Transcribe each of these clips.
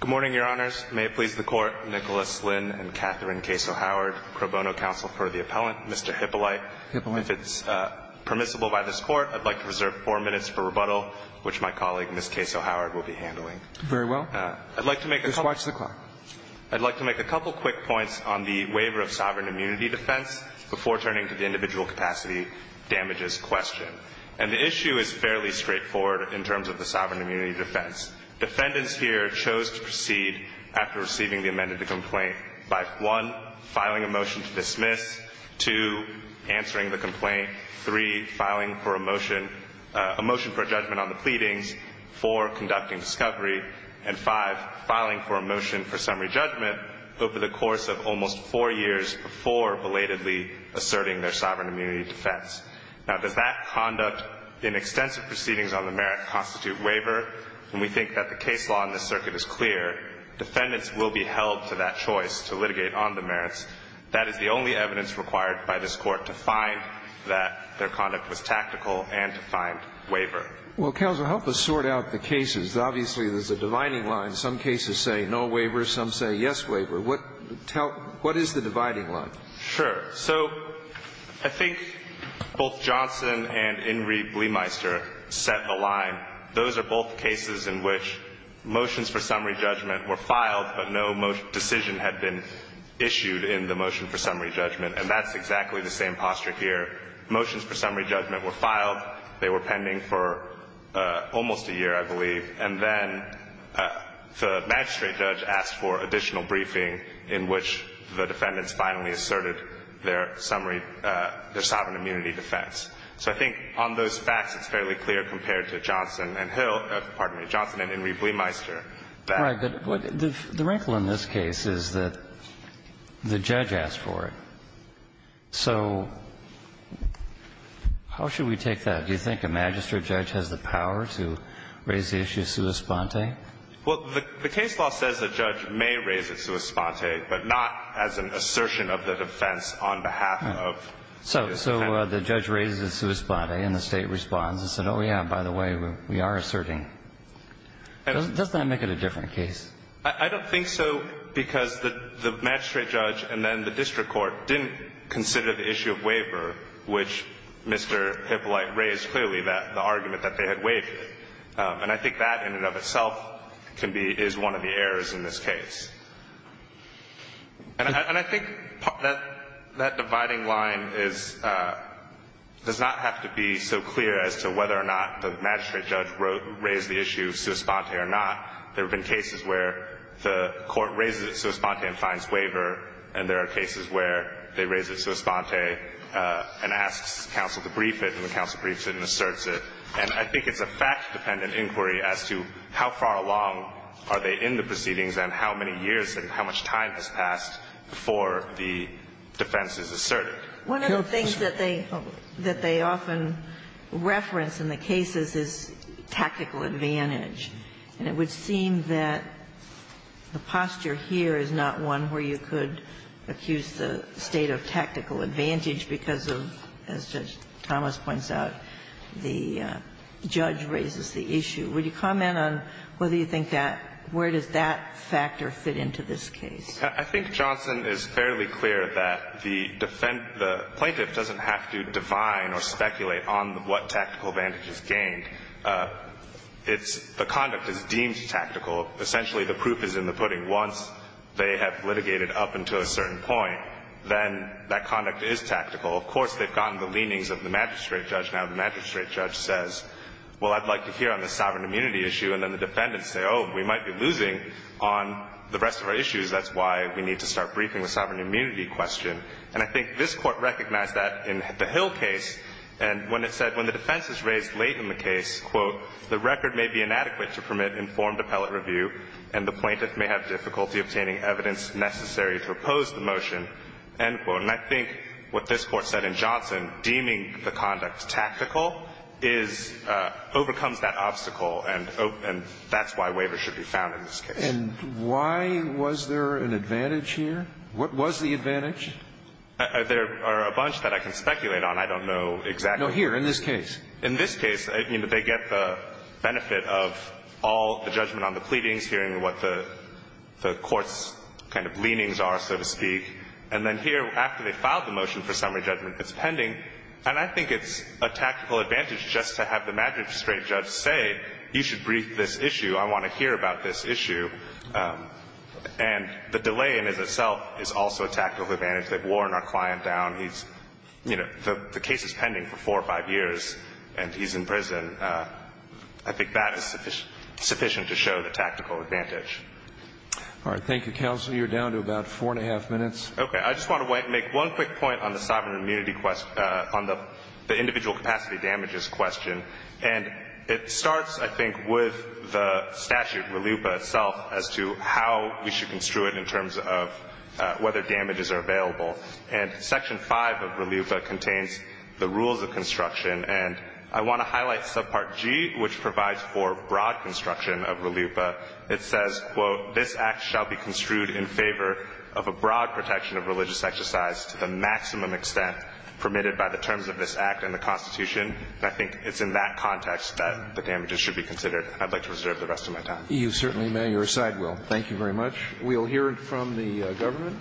Good morning, Your Honors. May it please the Court, Nicholas Lynn and Catherine Case O'Howard, pro bono counsel for the appellant, Mr. Hypolite. If it's permissible by this Court, I'd like to reserve four minutes for rebuttal, which my colleague, Ms. Case O'Howard, will be handling. Very well. I'd like to make a couple of quick points on the waiver of sovereign immunity to defendants, and two, is fairly straightforward in terms of the sovereign immunity defense. Defendants here chose to proceed after receiving the amended complaint by, one, filing a motion to dismiss, two, answering the complaint, three, filing for a motion for judgment on the pleadings, four, conducting discovery, and five, filing for a motion for summary judgment over the course of almost four years before belatedly asserting their sovereign immunity defense. Now, does that conduct in extensive proceedings on the merit constitute waiver? And we think that the case law in this circuit is clear. Defendants will be held to that choice to litigate on the merits. That is the only evidence required by this Court to find that their conduct was tactical and to find waiver. Well, counsel, help us sort out the cases. Obviously, there's a dividing line. Some cases say no waiver. Some say yes waiver. What is the dividing line? Sure. So I think both Johnson and Ingrie Bleemeister set the line. Those are both cases in which motions for summary judgment were filed, but no decision had been issued in the motion for summary judgment. And that's exactly the same posture here. Motions for summary judgment were filed. They were pending for almost a year, I believe. And then the magistrate judge asked for additional briefing in which the defendants finally asserted their summary, their sovereign immunity defense. So I think on those facts, it's fairly clear compared to Johnson and Hill or, pardon me, Johnson and Ingrie Bleemeister that. Right. But the wrinkle in this case is that the judge asked for it. So how should we take that? Do you think a magistrate judge has the power to raise the issue sua sponte? Well, the case law says the judge may raise it sua sponte, but not as an assertion of the defense on behalf of the defendant. So the judge raises it sua sponte, and the State responds and says, oh, yeah, by the way, we are asserting. Doesn't that make it a different case? I don't think so, because the magistrate judge and then the district court didn't consider the issue of waiver, which Mr. Hippolite raised clearly, the argument that they had waived. And I think that in and of itself can be one of the errors in this case. And I think that dividing line is does not have to be so clear as to whether or not the magistrate judge raised the issue sua sponte or not. There have been cases where the court raises it sua sponte and finds waiver, and there are cases where they raise it sua sponte and asks counsel to brief it, and the counsel briefs it and asserts it. And I think it's a fact-dependent inquiry as to how far along are they in the proceedings and how many years and how much time has passed before the defense is asserted. One of the things that they often reference in the cases is tactical advantage. And it would seem that the posture here is not one where you could accuse the State of tactical advantage because of, as Judge Thomas points out, the judge raises the issue. Would you comment on whether you think that where does that factor fit into this case? I think Johnson is fairly clear that the plaintiff doesn't have to define or speculate on what tactical advantage is gained. It's the conduct is deemed tactical. Essentially, the proof is in the pudding. Once they have litigated up until a certain point, then that conduct is tactical. Of course, they've gotten the leanings of the magistrate judge. Now, the magistrate judge says, well, I'd like to hear on the sovereign immunity issue. And then the defendants say, oh, we might be losing on the rest of our issues. That's why we need to start briefing the sovereign immunity question. And I think this Court recognized that in the Hill case. And when it said when the defense is raised late in the case, quote, the record may be inadequate to permit informed appellate review and the plaintiff may have difficulty obtaining evidence necessary to oppose the motion, end quote. And I think what this Court said in Johnson, deeming the conduct tactical is overcomes that obstacle, and that's why waivers should be found in this case. And why was there an advantage here? What was the advantage? There are a bunch that I can speculate on. I don't know exactly. No, here, in this case. In this case, I mean, they get the benefit of all the judgment on the pleadings, hearing what the Court's kind of leanings are, so to speak. And then here, after they filed the motion for summary judgment, it's pending. And I think it's a tactical advantage just to have the magistrate judge say, you should brief this issue. I want to hear about this issue. And the delay in itself is also a tactical advantage. They've worn our client down. He's, you know, the case is pending for four or five years, and he's in prison. And I think that is sufficient to show the tactical advantage. All right. Thank you, Counselor. You're down to about four and a half minutes. Okay. I just want to make one quick point on the sovereign immunity question, on the individual capacity damages question. And it starts, I think, with the statute, RLUIPA itself, as to how we should construe it in terms of whether damages are available. And Section 5 of RLUIPA contains the rules of construction. And I want to highlight Subpart G, which provides for broad construction of RLUIPA. It says, quote, This Act shall be construed in favor of a broad protection of religious exercise to the maximum extent permitted by the terms of this Act and the Constitution. And I think it's in that context that the damages should be considered. I'd like to reserve the rest of my time. You certainly may. Your side will. Thank you very much. We'll hear from the government.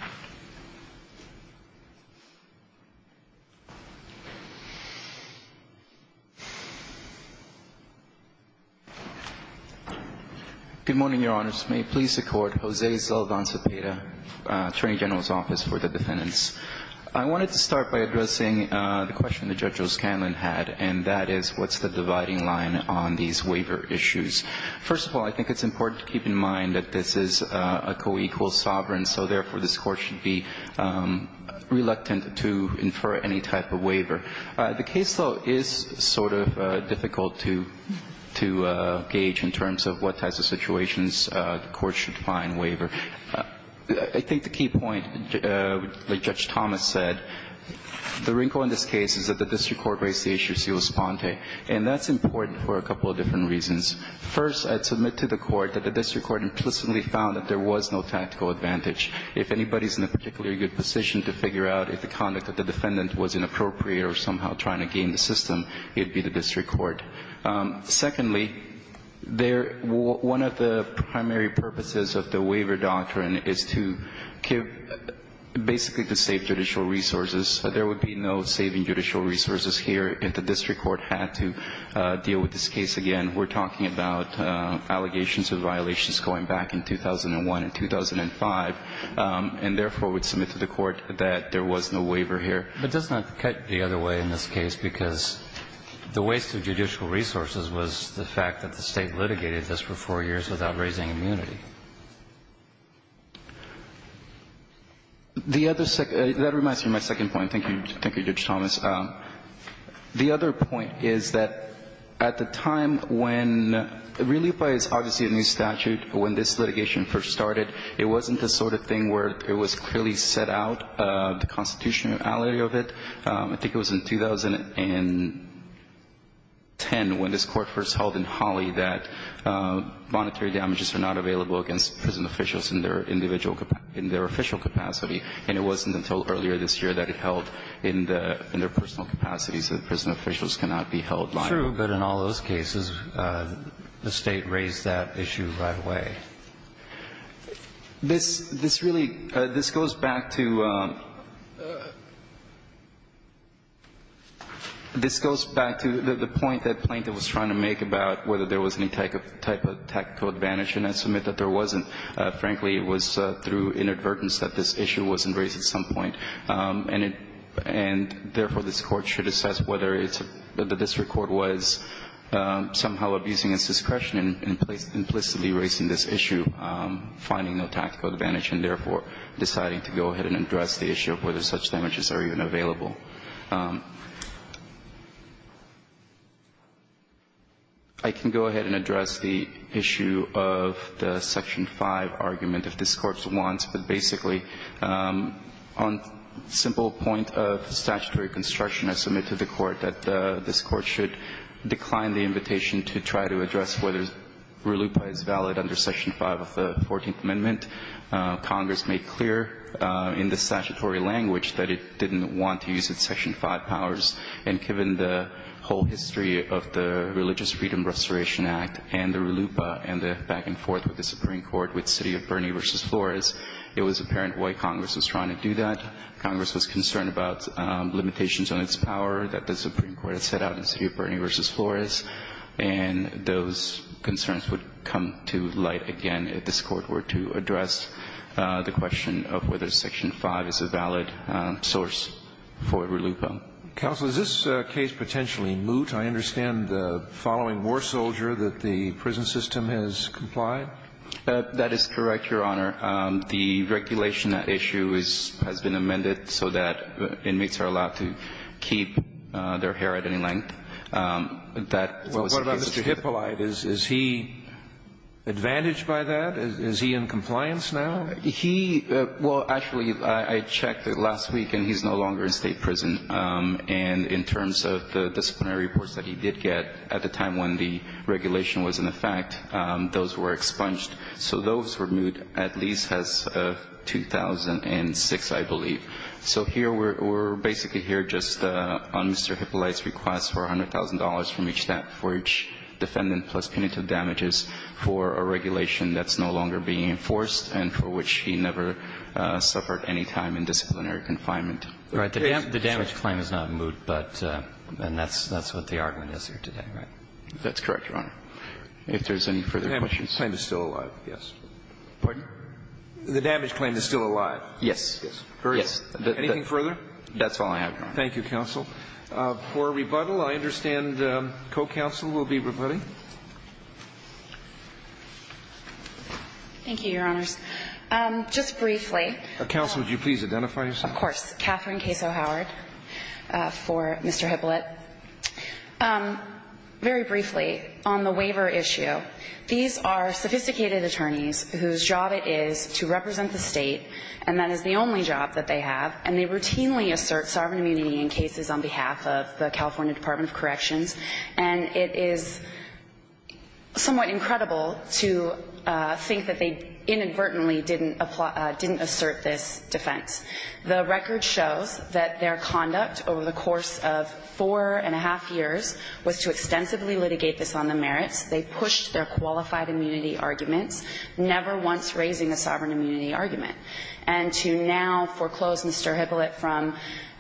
Good morning, Your Honors. May it please the Court. Jose Zalabanza-Peda, Attorney General's Office for the Defendants. I wanted to start by addressing the question that Judge Rose-Candlin had, and that is, what's the dividing line on these waiver issues? First of all, I think it's important to keep in mind that this is a co-equal sovereign, so, therefore, this Court should be reluctant to infer any type of waiver. The case, though, is sort of difficult to gauge in terms of what types of situations the Court should find waiver. I think the key point, like Judge Thomas said, the wrinkle in this case is that the district court raised the issue of civil esponte, and that's important for a couple of different reasons. First, I'd submit to the Court that the district court implicitly found that there was no tactical advantage. If anybody's in a particularly good position to figure out if the conduct of the defendant was inappropriate or somehow trying to game the system, it'd be the district court. Secondly, one of the primary purposes of the waiver doctrine is to basically to save judicial resources. There would be no saving judicial resources here if the district court had to deal with this case again. We're talking about allegations of violations going back in 2001 and 2005, and, therefore, I would submit to the Court that there was no waiver here. But doesn't that cut the other way in this case, because the waste of judicial resources was the fact that the State litigated this for four years without raising immunity? The other second – that reminds me of my second point. Thank you, Judge Thomas. The other point is that at the time when – Relief By is obviously a new statute. When this litigation first started, it wasn't the sort of thing where it was clearly set out, the constitutionality of it. I think it was in 2010 when this Court first held in Holly that monetary damages are not available against prison officials in their official capacity, and it wasn't until earlier this year that it held in their personal capacity, so prison officials cannot be held liable. True, but in all those cases, the State raised that issue right away. This – this really – this goes back to – this goes back to the point that Plaintiff was trying to make about whether there was any type of tactical advantage in that Frankly, it was through inadvertence that this issue wasn't raised at some point, and it – and, therefore, this Court should assess whether it's – that the district court was somehow abusing its discretion in implicitly raising this issue, finding no tactical advantage, and, therefore, deciding to go ahead and address the issue of whether such damages are even available. I can go ahead and address the issue of the Section 5 argument, if this Court wants, but basically, on simple point of statutory construction, I submit to the Court that this Court should decline the invitation to try to address whether RULAPA is valid Congress made clear in the statutory language that it didn't want to use its Section 5 powers, and given the whole history of the Religious Freedom Restoration Act and the RULUPA and the back and forth with the Supreme Court with City of Bernie v. Flores, it was apparent why Congress was trying to do that. Congress was concerned about limitations on its power that the Supreme Court had set out in City of Bernie v. Flores, and those concerns would come to light again if this Court tried to address the question of whether Section 5 is a valid source for RULUPA. Counsel, is this case potentially moot? I understand the following war soldier that the prison system has complied. That is correct, Your Honor. The regulation at issue has been amended so that inmates are allowed to keep their hair at any length. That was the case. Well, what about Mr. Hippolyte? Is he advantaged by that? Is he in compliance now? He – well, actually, I checked last week, and he's no longer in state prison. And in terms of the disciplinary reports that he did get at the time when the regulation was in effect, those were expunged. So those were moot at least as of 2006, I believe. So here we're basically here just on Mr. Hippolyte's request for $100,000 from each defendant plus punitive damages for a regulation that's no longer being enforced and for which he never suffered any time in disciplinary confinement. Right. The damage claim is not moot, but – and that's what the argument is here today, right? That's correct, Your Honor. If there's any further questions. The damage claim is still alive, yes. Pardon? The damage claim is still alive. Yes. Yes. Anything further? That's all I have, Your Honor. Thank you, counsel. For rebuttal, I understand co-counsel will be rebutting. Thank you, Your Honors. Just briefly – Counsel, would you please identify yourself? Of course. Catherine Caso Howard for Mr. Hippolyte. Very briefly, on the waiver issue, these are sophisticated attorneys whose job it is to represent the State, and that is the only job that they have, and they routinely assert sovereign immunity in cases on behalf of the California Department of Corrections. And it is somewhat incredible to think that they inadvertently didn't assert this defense. The record shows that their conduct over the course of four and a half years was to extensively litigate this on the merits. They pushed their qualified immunity arguments, never once raising a sovereign immunity argument. And to now foreclose Mr. Hippolyte from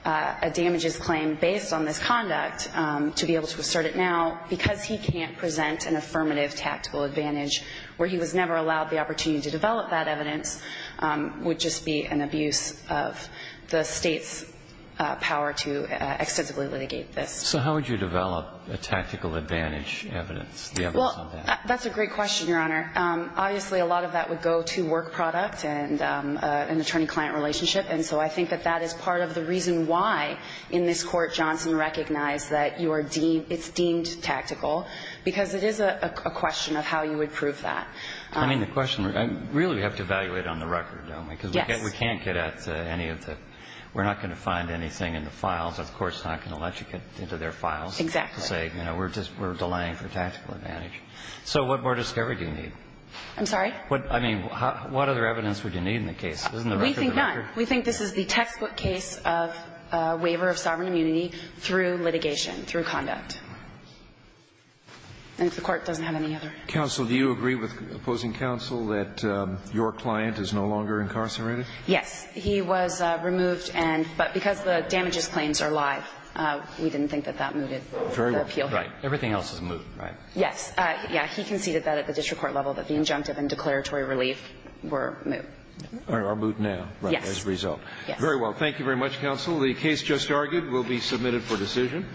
a damages claim based on this conduct, to be able to assert it now, because he can't present an affirmative tactical advantage where he was never allowed the opportunity to develop that evidence, would just be an abuse of the State's power to extensively litigate this. So how would you develop a tactical advantage evidence? Well, that's a great question, Your Honor. Obviously, a lot of that would go to work product and an attorney-client relationship. And so I think that that is part of the reason why, in this Court, Johnson recognized that you are deemed, it's deemed tactical, because it is a question of how you would prove that. I mean, the question, really, we have to evaluate on the record, don't we? Yes. Because we can't get at any of the, we're not going to find anything in the files. The Court's not going to let you get into their files. Exactly. To say, you know, we're just, we're delaying for tactical advantage. So what more discovery do you need? I'm sorry? What, I mean, what other evidence would you need in the case? Isn't the record the record? We think none. We think this is the textbook case of waiver of sovereign immunity through litigation, through conduct. And if the Court doesn't have any other. Counsel, do you agree with opposing counsel that your client is no longer incarcerated? Yes. He was removed and, but because the damages claims are live, we didn't think that that moved the appeal. Right. Everything else is moved, right? Yes. Yeah. He conceded that at the district court level, but the injunctive and declaratory relief were moved. Or moved now. Yes. As a result. Yes. Very well. Thank you very much, counsel. The case just argued will be submitted for decision.